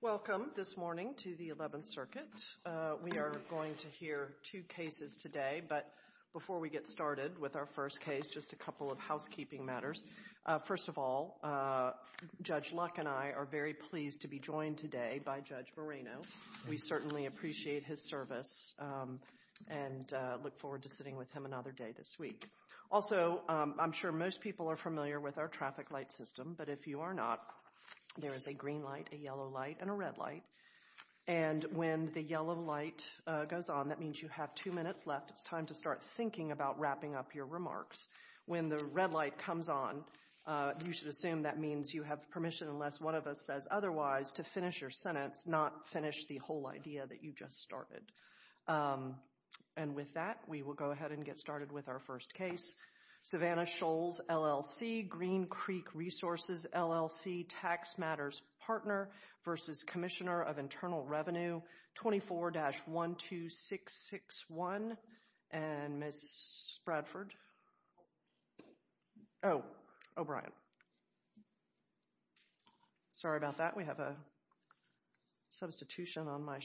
Welcome, this morning, to the Eleventh Circuit. We are going to hear two cases today, but before we get started with our first case, just a couple of housekeeping matters. First of all, Judge Luck and I are very pleased to be joined today by Judge Moreno. We certainly appreciate his service and look forward to sitting with him another day this week. Also, I'm sure most people are familiar with our traffic light system, but if you are not, there is a green light, a yellow light, and a red light. And when the yellow light goes on, that means you have two minutes left. It's time to start thinking about wrapping up your remarks. When the red light comes on, you should assume that means you have permission, unless one of us says otherwise, to finish your sentence, not finish the whole idea that you just started. And with that, we will go ahead and get started with our first case. Savannah Shoals, LLC, Green Creek Resources, LLC, Tax Matters Partner v. Commissioner of Internal Revenue, 24-12661. And Ms. Bradford? Oh, O'Brien. Sorry about that. We have a substitution on my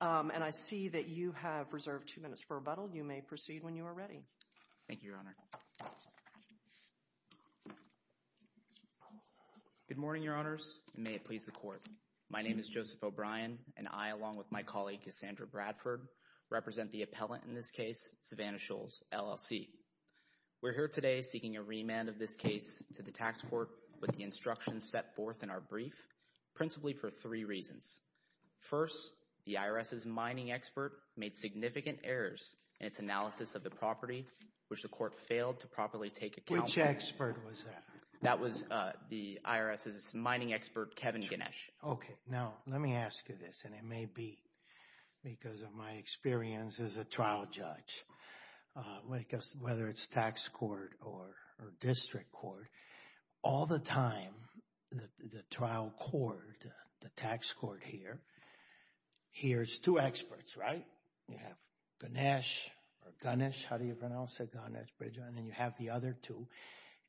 and I see that you have reserved two minutes for rebuttal. You may proceed when you are ready. Thank you, Your Honor. Good morning, Your Honors, and may it please the Court. My name is Joseph O'Brien, and I, along with my colleague Cassandra Bradford, represent the appellant in this case, Savannah Shoals, LLC. We're here today seeking a remand of this case to the Tax Court with the set forth in our brief, principally for three reasons. First, the IRS's mining expert made significant errors in its analysis of the property, which the Court failed to properly take account of. Which expert was that? That was the IRS's mining expert, Kevin Ganesh. Okay. Now, let me ask you this, and it may be because of my experience as a trial judge, whether it's tax court or district court, all the time, the trial court, the tax court here, here's two experts, right? You have Ganesh, or Ganesh, how do you pronounce it, Ganesh, Bridger, and then you have the other two,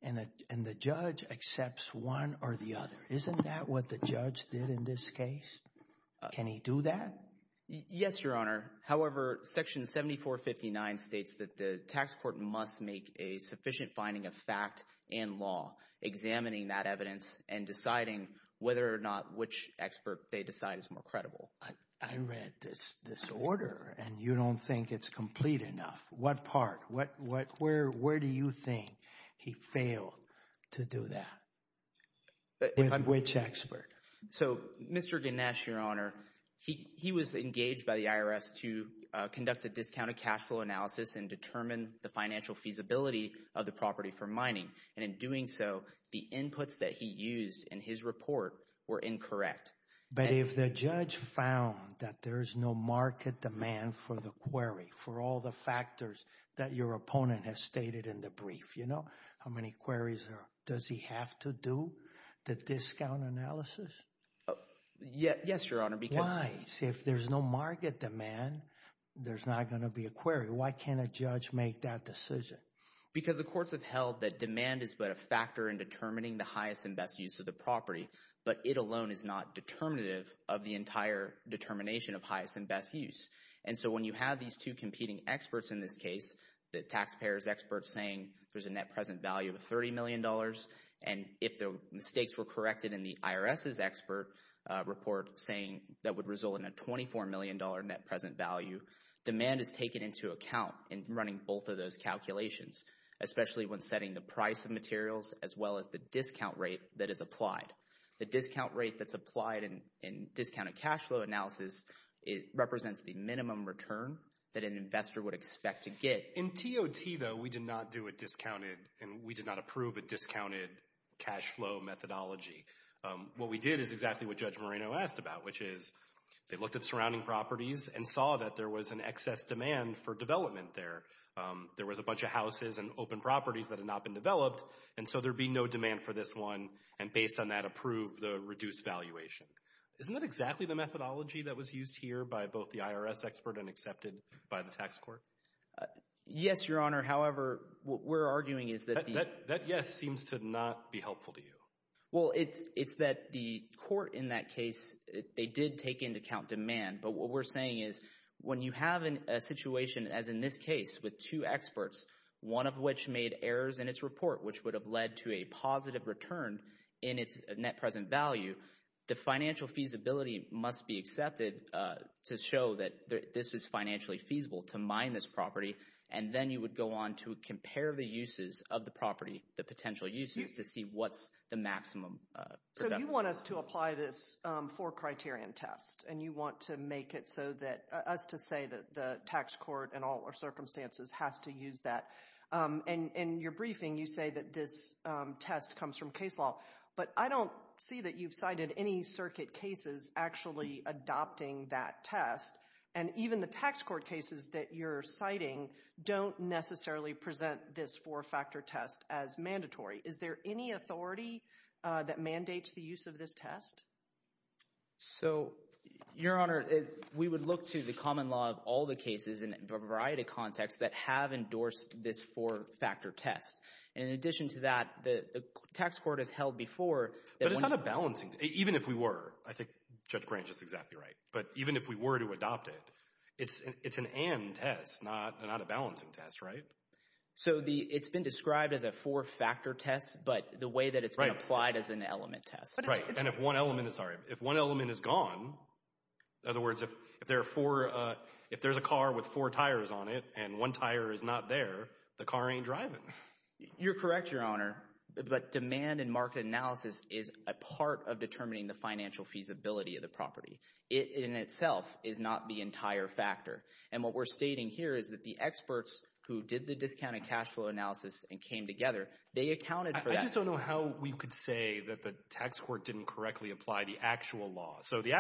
and the judge accepts one or the other. Isn't that what the judge did in this case? Can he do that? Yes, Your Honor. However, Section 7459 states that the tax court must make a sufficient finding of fact and law, examining that evidence and deciding whether or not which expert they decide is more credible. I read this order, and you don't think it's complete enough. What part, where do you think he failed to do that? Which expert? So, Mr. Ganesh, Your Honor, he was engaged by the IRS to conduct a discounted cash flow analysis and determine the financial feasibility of the property for mining, and in doing so, the inputs that he used in his report were incorrect. But if the judge found that there's no market demand for the query, for all the factors that your opponent has stated in the brief, how many queries does he have to do the discount analysis? Yes, Your Honor. Why? If there's no market demand, there's not going to be a query. Why can't a judge make that decision? Because the courts have held that demand is but a factor in determining the highest and best use of the property, but it alone is not determinative of the entire determination of highest and best use. And so when you have these two competing experts in this case, the taxpayers experts saying there's a net present value of $30 million, and if the mistakes were corrected in the IRS's expert report saying that would result in a $24 million net present value, demand is taken into account in running both of those calculations, especially when setting the price of materials as well as the discount rate that is applied. The discount rate that's applied in discounted cash flow analysis represents the minimum return that an investor would expect to get. In TOT, though, we do not do a discounted, and we did not approve a discounted cash flow methodology. What we did is exactly what Judge Moreno asked about, which is they looked at surrounding properties and saw that there was an excess demand for development there. There was a bunch of houses and open properties that had not been developed, and so there'd be no demand for this one, and based on that approved the reduced valuation. Isn't that exactly the methodology that was used here by both IRS expert and accepted by the tax court? Yes, Your Honor. However, what we're arguing is that that yes seems to not be helpful to you. Well, it's that the court in that case, they did take into account demand, but what we're saying is when you have a situation as in this case with two experts, one of which made errors in its report, which would have led to a positive return in its net present value, the financial feasibility must be accepted to show that this is financially feasible to mine this property, and then you would go on to compare the uses of the property, the potential uses, to see what's the maximum. So you want us to apply this four-criterion test, and you want to make it so that us to say that the tax court in all our circumstances has to use that, and in your briefing you say that this test comes from case law, but I don't see that you've cited any circuit cases actually adopting that test, and even the tax court cases that you're citing don't necessarily present this four-factor test as mandatory. Is there any authority that mandates the use of this test? So, Your Honor, we would look to the common law of all the cases in a variety of contexts that have endorsed this four-factor test. In addition to that, the tax court has held before... But it's not a balancing test. Even if we were, I think Judge Grange is exactly right, but even if we were to adopt it, it's an and test, not a balancing test, right? So it's been described as a four-factor test, but the way that it's been applied is an element test. Right, and if one element is gone, in other words, if there are four, if there's a car with four tires on it and one tire is not there, the car ain't driving. You're correct, Your Honor, but demand and market analysis is a part of determining the financial feasibility of the property. It in itself is not the entire factor, and what we're stating here is that the experts who did the discounted cash flow analysis and came together, they accounted for that. I just don't know how we could say that the tax court didn't correctly apply the actual law. So the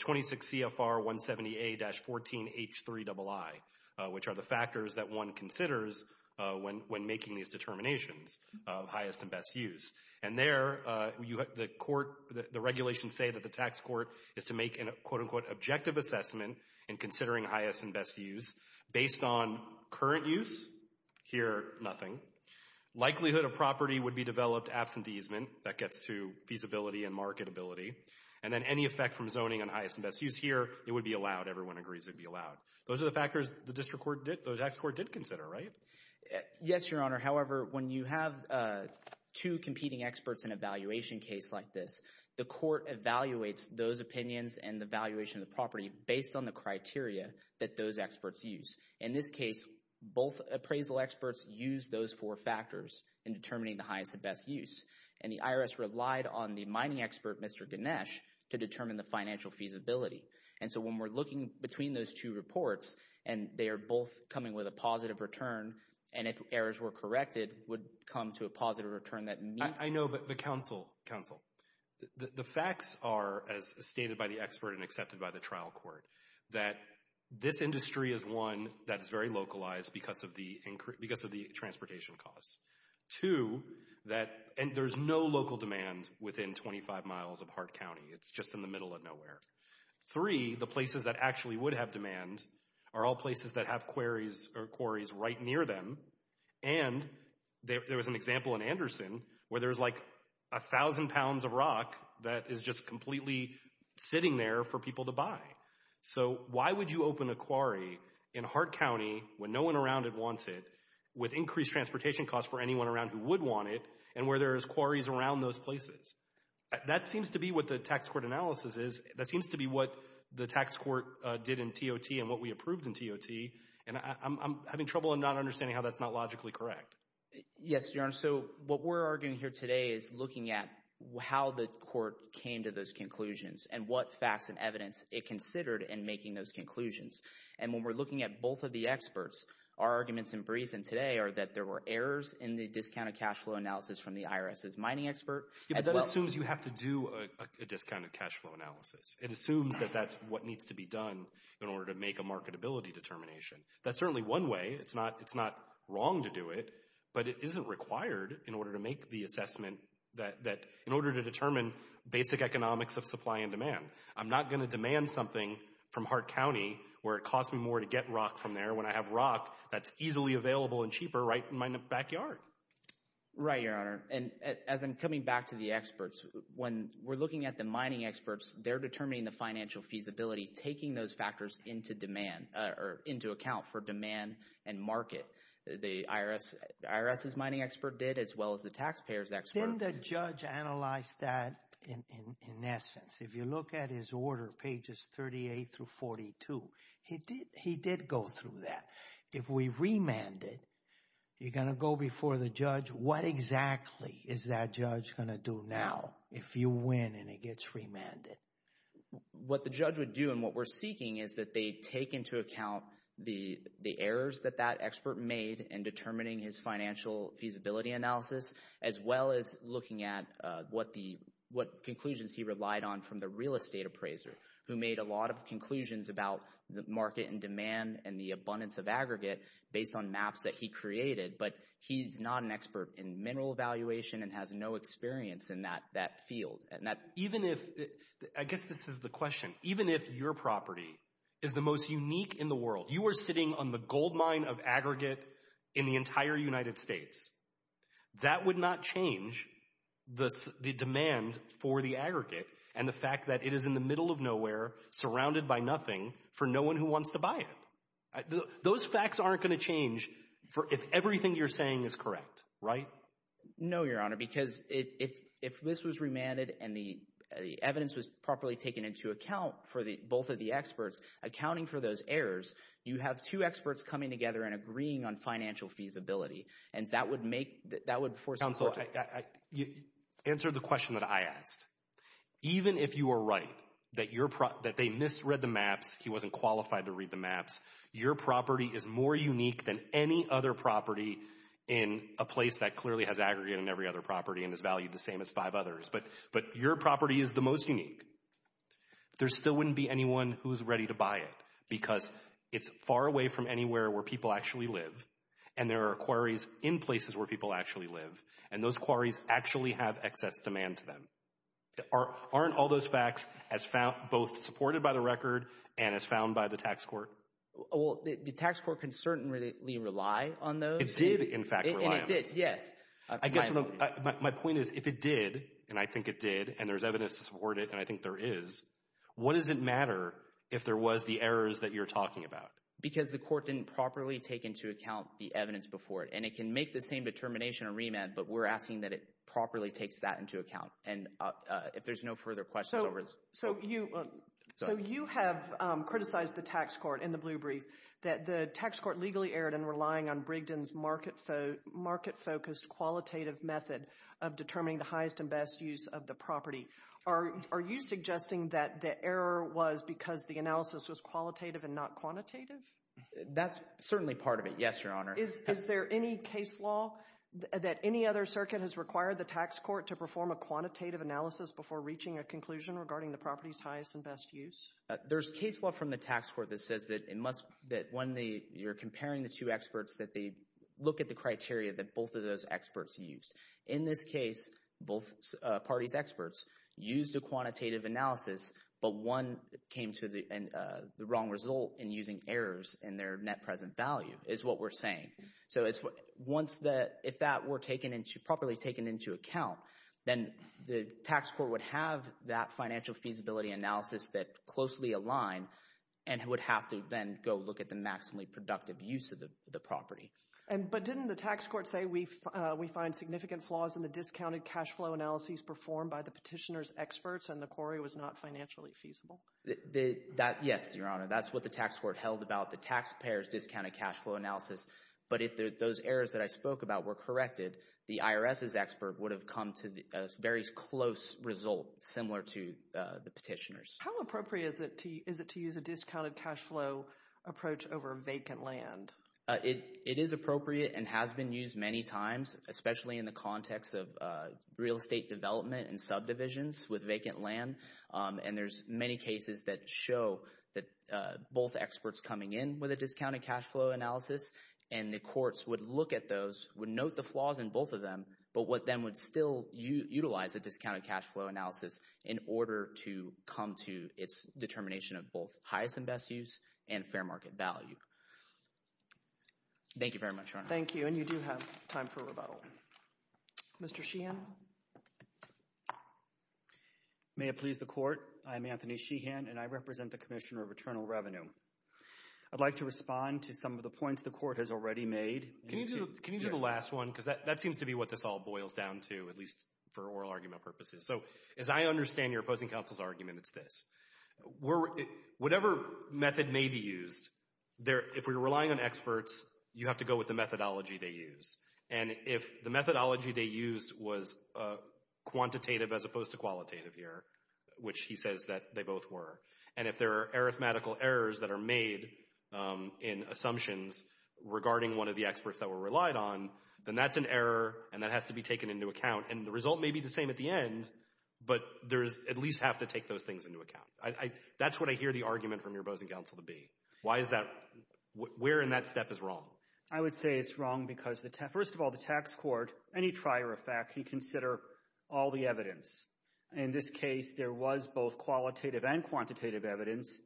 26 CFR 170A-14H3II, which are the factors that one considers when making these determinations of highest and best use. And there, the court, the regulations say that the tax court is to make an, quote-unquote, objective assessment in considering highest and best use based on current use. Here, nothing. Likelihood of property would be developed absenteeism. That gets to feasibility and marketability. And then any effect from zoning on highest and best use here, it would be allowed. Everyone agrees it'd be allowed. Those are the factors the district court did, the tax court did consider, right? Yes, Your Honor. However, when you have two competing experts in a valuation case like this, the court evaluates those opinions and the valuation of the property based on the criteria that those experts use. In this case, both appraisal experts used those four factors in determining the highest and best use. And the IRS relied on the mining expert, Mr. Ganesh, to determine the financial feasibility. And so when we're looking between those two reports, and they are both coming with a positive return, and if errors were corrected, would come to a positive return that meets... I know, but counsel, counsel, the facts are, as stated by the expert and accepted by the trial court, that this industry is one that is very localized because of the transportation costs. Two, that there's no local demand within 25 miles of Hart County. It's just in the middle of nowhere. Three, the places that actually would have demand are all places that have quarries right near them. And there was an example in Anderson where there's like a thousand pounds of rock that is just completely sitting there for people to buy. So why would you in Hart County, when no one around it wants it, with increased transportation costs for anyone around who would want it, and where there's quarries around those places? That seems to be what the tax court analysis is. That seems to be what the tax court did in TOT and what we approved in TOT. And I'm having trouble in not understanding how that's not logically correct. Yes, Your Honor. So what we're arguing here today is looking at how the court came to those conclusions and what facts and evidence it considered in making those conclusions. And when we're looking at both of the experts, our arguments in brief and today are that there were errors in the discounted cash flow analysis from the IRS's mining expert as well. It assumes you have to do a discounted cash flow analysis. It assumes that that's what needs to be done in order to make a marketability determination. That's certainly one way. It's not wrong to do it, but it isn't required in order to make the assessment that in order to determine basic economics of supply and demand. I'm not going to demand something from Hart County where it costs me more to get rock from there when I have rock that's easily available and cheaper right in my backyard. Right, Your Honor. And as I'm coming back to the experts, when we're looking at the mining experts, they're determining the financial feasibility, taking those factors into demand or into account for demand and market. The IRS's mining expert did as well as the taxpayer's expert. Didn't the judge analyze that in essence? If you look at his order, pages 38 through 42, he did go through that. If we remanded, you're going to go before the judge. What exactly is that judge going to do now if you win and it gets remanded? What the judge would do and what we're seeking is that they take into account the errors that that expert made in determining his financial feasibility analysis, as well as looking at what conclusions he relied on from the real estate appraiser, who made a lot of conclusions about the market and demand and the abundance of aggregate based on maps that he created. But he's not an expert in mineral valuation and has no experience in that field. I guess this is the question. Even if your property is the most unique in the world, you are sitting on the gold mine of aggregate in the entire United States. That would not change the demand for the aggregate and the fact that it is in the middle of nowhere, surrounded by nothing, for no one who wants to buy it. Those facts aren't going to change if everything you're saying is correct, right? No, Your Honor, because if this was remanded and the evidence was properly taken into account for the both of the experts, accounting for those errors, you have two experts coming together and agreeing on financial feasibility and that would make, that would force... Counsel, answer the question that I asked. Even if you are right, that they misread the maps, he wasn't qualified to read the maps, your property is more unique than any other property in a place that clearly has aggregate in every other property and is valued the same as five others. But your property is the most unique. There still wouldn't be anyone who's ready to buy it because it's far away from anywhere where people actually live and there are quarries in places where people actually live and those quarries actually have excess demand to them. Aren't all those facts as found, both supported by the record and as found by the tax court? Well, the tax court can certainly rely on those. It did, in fact, rely on them. And it did, yes. I guess my point is, if it did, and I think it did, and there's evidence to support it, and I think there is, what does it matter if there was the errors that you're talking about? Because the court didn't properly take into account the evidence before it and it can make the same determination a remand, but we're asking that it properly takes that into account and if there's no further questions... So you have criticized the tax court in the Blue Brief that the tax court legally erred in relying on Brigden's market-focused qualitative method of determining the highest and best use of the property. Are you suggesting that the error was because the analysis was qualitative and not quantitative? That's certainly part of it, yes, Your Honor. Is there any case law that any other circuit has required the tax court to perform a quantitative analysis before reaching a conclusion regarding the property's highest and best use? There's case law from the tax court that says that it must, that when you're comparing the two experts, that they look at the criteria that both of those experts used. In this case, both parties' experts used a quantitative analysis, but one came to the wrong result in using errors in their net present value, is what we're saying. So if that were properly taken into account, then the tax court would have that financial feasibility analysis that closely aligned and would have to then go look at the maximally productive use of the property. But didn't the tax court say we find significant flaws in the discounted cash flow analyses performed by the petitioner's experts and the query was not financially feasible? Yes, Your Honor, that's what the tax court held about the taxpayer's discounted cash flow analysis, but if those errors that I spoke about were corrected, the IRS's expert would have come to a very close result, similar to the petitioner's. How appropriate is it to use a discounted cash flow approach over vacant land? It is appropriate and has been used many times, especially in the context of real estate development and subdivisions with vacant land, and there's many cases that show that both experts coming in with a discounted cash flow analysis and the courts would look at those, would note the flaws in both of them, but what then would still utilize a discounted cash flow analysis in order to come to its determination of both highest and best use and fair market value. Thank you very much, Your Honor. Thank you, and you do have time for a rebuttal. Mr. Sheehan? May it please the Court, I'm Anthony Sheehan, and I represent the Commissioner of Eternal Revenue. I'd like to respond to some of the points the Court has already made. Can you do the last one, because that seems to be what this all boils down to, at least for oral argument purposes. So, as I understand your opposing counsel's argument, it's this. Whatever method may be used, if we're relying on experts, you have to go with the methodology they use, and if the methodology they used was quantitative as opposed to qualitative here, which he says that they both were, and if there are arithmetical errors that are made in assumptions regarding one of the experts that we're relied on, then that's an error and that has to be taken into account, and the result may be the same at the end, but there's at least have to take those things into account. That's what I hear the argument from your opposing counsel to be. Why is that? Where in that step is wrong? I would say it's wrong because, first of all, the tax court, any trier of fact, you consider all the evidence. In this case, there was both qualitative and quantitative evidence.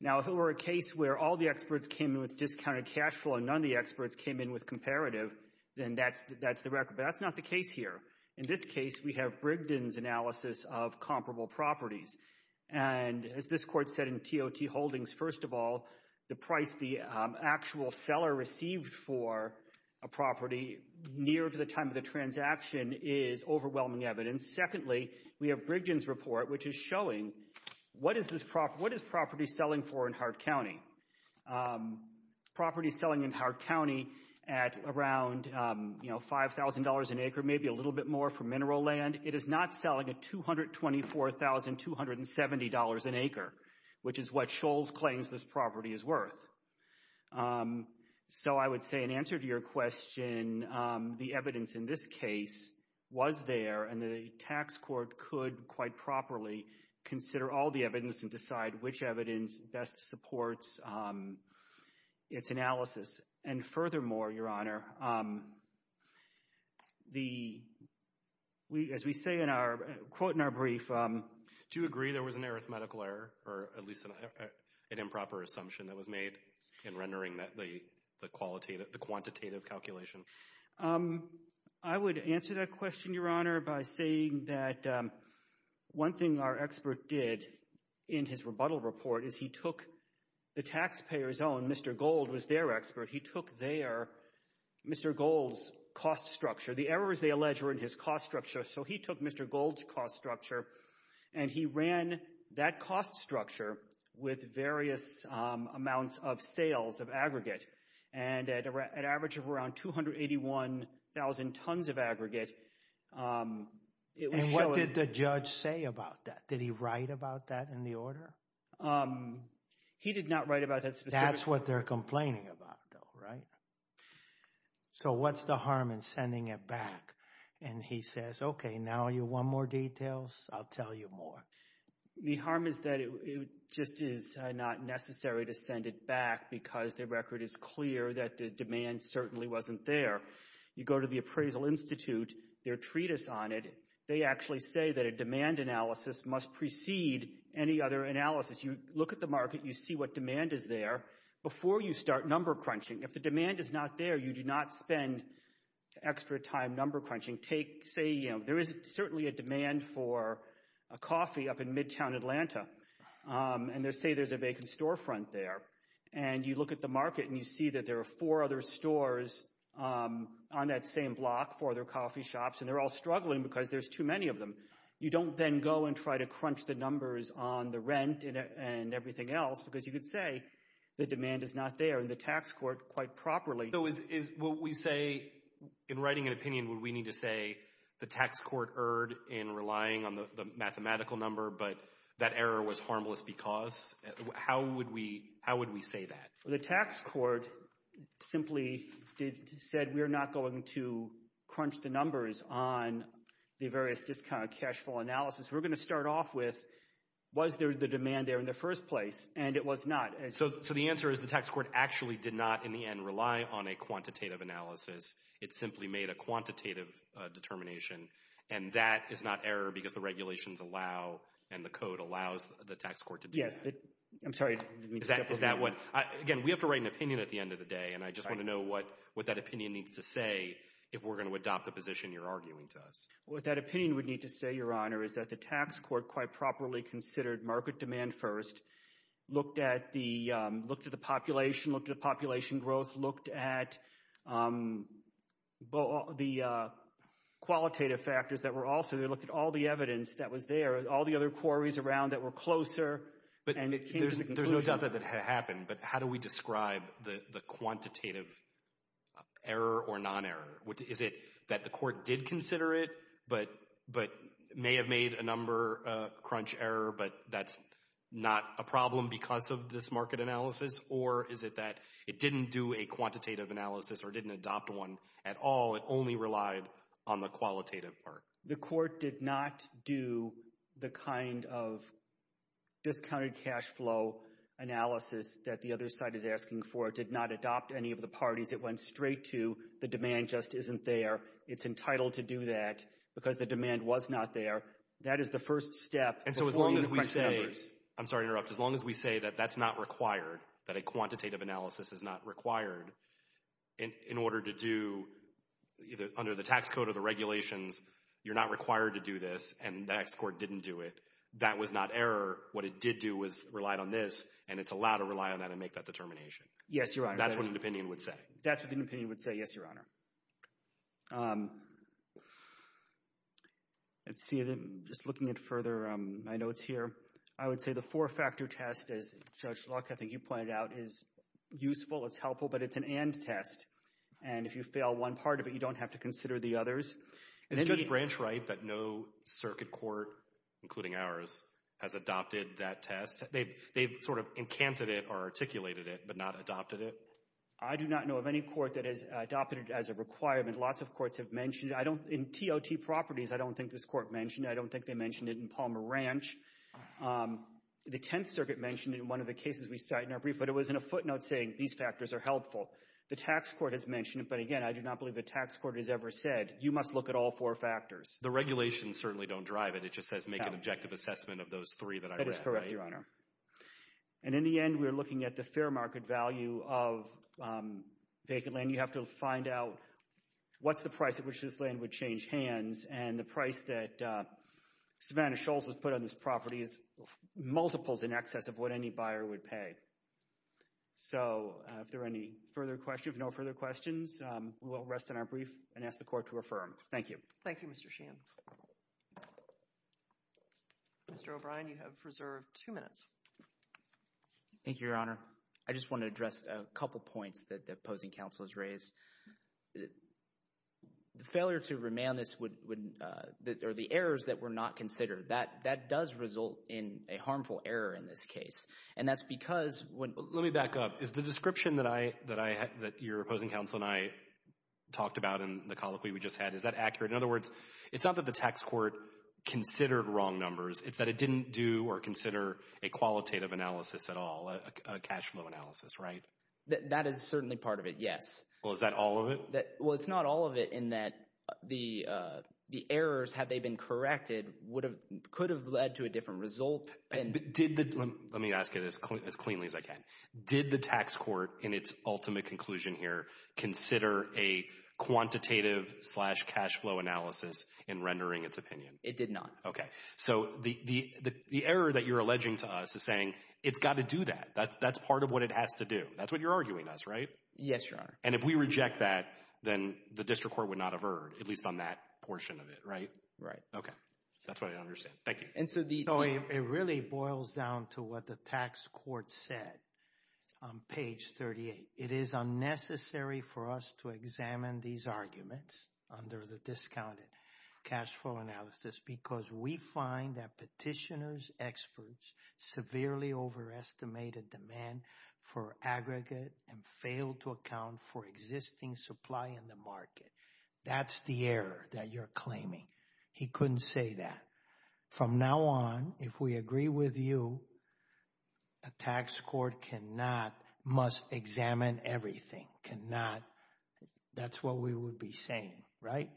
Now, if it were a case where all the experts came in with discounted cash flow and none of the experts came in with comparative, then that's the record, but that's not the case here. In this case, we have Brigden's analysis of comparable properties, and as this court said in TOT Holdings, first of all, the price the actual seller received for a property near to the time of the transaction is overwhelming evidence. Secondly, we have Brigden's report, which is showing what is property selling for in Hart County? Property selling in Hart County at around $5,000 an acre, maybe a little bit more for mineral land, it is not selling at $224,270 an acre, which is what Scholz claims this property is worth. So I would say in answer to your question, the evidence in this case was there, and the tax court could quite properly consider all the evidence and decide which evidence best supports its analysis. And furthermore, Your Honor, the, as we say in our, quote in our brief... Do you agree there was an arithmetical error, or at least an improper assumption that was made in rendering the quantitative calculation? I would answer that question, Your Honor, by saying that one thing our expert did in his rebuttal report is he took the taxpayer's own, Mr. Gold was their expert, he took their, Mr. Gold's cost structure, the errors they allege were in his cost structure, so he took Mr. Gold's cost structure, and he ran that cost structure with various amounts of sales of aggregate, and at an average of around 281,000 tons of aggregate. And what did the judge say about that? Did he write about that in the order? He did not write about that specifically. That's what they're complaining about though, right? So what's the harm in sending it back? And he says, okay, now you want more details, I'll tell you more. The harm is that it just is not necessary to send it back because the record is clear that the demand certainly wasn't there. You go to the Appraisal Institute, their treatise on it, they actually say that a demand analysis must precede any other analysis. You look at the market, you see what demand is there, before you start number crunching. If the demand is not there, you do not spend extra time number crunching. Take, say, you know, there is certainly a demand for a coffee up in Midtown Atlanta, and say there's a vacant storefront there, and you look at the market and you see that there are four other stores on that same block, four other coffee shops, and they're all struggling because there's too many of them. You don't then go and try to crunch the numbers on the rent and everything else, because you could say the demand is not there, and the tax court, quite properly. So is what we say, in writing an opinion, would we need to say the tax court erred in relying on the mathematical number, but that error was harmless because? How would we say that? The tax court simply said we're not going to crunch the numbers on the various discount cash flow analysis. We're going to start off with, was there the demand there in the first place? And it was not. So the answer is the tax court actually did not, in the end, rely on a quantitative analysis. It simply made a quantitative determination. And that is not error because the regulations allow, and the code allows, the tax court to do. Yes, I'm sorry. Is that what, again, we have to write an opinion at the end of the day, and I just want to know what that opinion needs to say if we're going to adopt the position you're arguing to us. What that opinion would need to say, Your Honor, is that the tax court quite properly considered market demand first, looked at the population, looked at population growth, looked at the qualitative factors that were also there, looked at all the evidence that was there, all the other quarries around that were closer. But there's no doubt that that happened, but how do we describe the quantitative error or non-error? Is it that the court did consider it, but may have made a number, a crunch error, but that's not a problem because of this market analysis? Or is it that it didn't do a quantitative analysis or didn't adopt one at all? It only relied on the qualitative part. The court did not do the kind of discounted cash flow analysis that the other side is asking for. It did not adopt any of the parties it went straight to. The demand just isn't there. It's entitled to do that because the demand was not there. That is the first step. And so as long as we say, I'm sorry to interrupt, as long as we say that that's not required, that a quantitative analysis is not required, in order to do either under the tax code or the regulations, you're not required to do this, and the next court didn't do it, that was not error. What it did do was relied on this, and it's allowed to rely on that and make that determination. Yes, Your Honor. That's what an opinion would say. That's what an opinion would say, yes, Your Honor. Let's see, just looking at further, my notes here, I would say the four-factor test, as Judge Luck, I think you pointed out, is useful, it's helpful, but it's an end test. And if you fail one part of it, you don't have to consider the others. Is Judge Branch right that no circuit court, including ours, has adopted that test? They've sort of encanted it or articulated it, but not adopted it? I do not know of any court that has adopted it as a requirement. Lots of courts have mentioned it. I don't, in TOT properties, I don't think this court mentioned it. I don't think they mentioned it in Palmer Ranch. The Tenth Circuit mentioned it in one of the cases we cite in our brief, but it was in a footnote saying, these factors are helpful. The tax court has mentioned it, but again, I do not believe the tax court has ever said, you must look at all four factors. The regulations certainly don't drive it. It just says make an objective assessment of those three that I read. That is correct, Your Honor. And in the end, we're looking at the fair market value of vacant land. You have to find out what's the price at which this land would change hands, and the price that Savannah Schultz would put on this property is multiples in excess of what any buyer would pay. So, if there are any further questions, no further questions, we will rest in our brief and ask the court to affirm. Thank you. Thank you, Mr. Sheehan. Mr. O'Brien, you have reserved two minutes. Thank you, Your Honor. I just want to address a couple points that the opposing counsel has raised. The failure to remand this would, or the errors that were not considered, that does result in a harmful error in this case. And that's because when... Let me back up. Is the description that your opposing counsel and I talked about in the colloquy we just had, is that accurate? In other words, it's not that the tax court considered wrong numbers. It's that it didn't do or consider a qualitative analysis at all, a cash flow analysis, right? That is certainly part of it, yes. Well, is that all of it? Well, it's not all of it in that the errors, had they been corrected, could have led to a different result. But did the... Let me ask it as cleanly as I can. Did the tax court, in its ultimate conclusion here, consider a quantitative slash cash flow analysis in rendering its opinion? It did not. Okay. So the error that you're alleging to us is saying it's got to do that. That's part of what it has to do. That's what you're arguing to us, right? Yes, Your Honor. And if we reject that, then the district court would not have erred, at least on that portion of it, right? Right. Okay. That's what I understand. Thank you. It really boils down to what the tax court said on page 38. It is unnecessary for us to examine these arguments under the discounted cash flow analysis because we find that petitioners' experts severely overestimated demand for aggregate and failed to account for existing supply in the market. That's the error that you're claiming. He couldn't say that. From now on, if we agree with you, a tax court must examine everything. That's what we would be saying, right?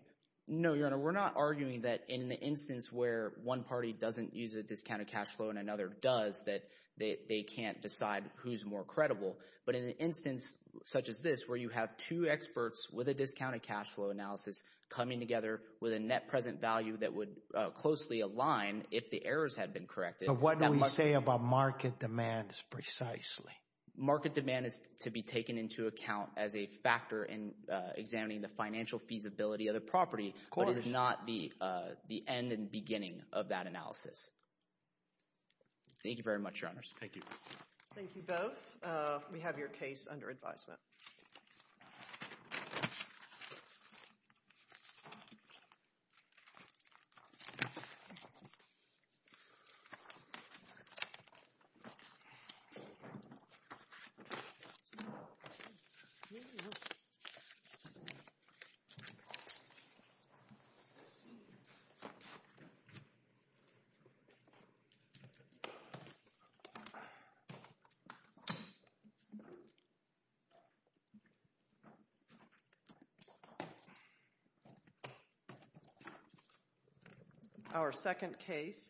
No, Your Honor. We're not arguing that in the instance where one party doesn't use a discounted cash flow and another does, that they can't decide who's more credible. But in an instance such as this, where you have two experts with a discounted cash flow analysis coming together with a net present value that would closely align if the errors had been corrected— But what do we say about market demands precisely? Market demand is to be taken into account as a factor in examining the financial feasibility of the property— —but it is not the end and beginning of that analysis. Thank you very much, Your Honors. Thank you. Thank you both. We have your case under advisement. Thank you. Thank you. Our second case.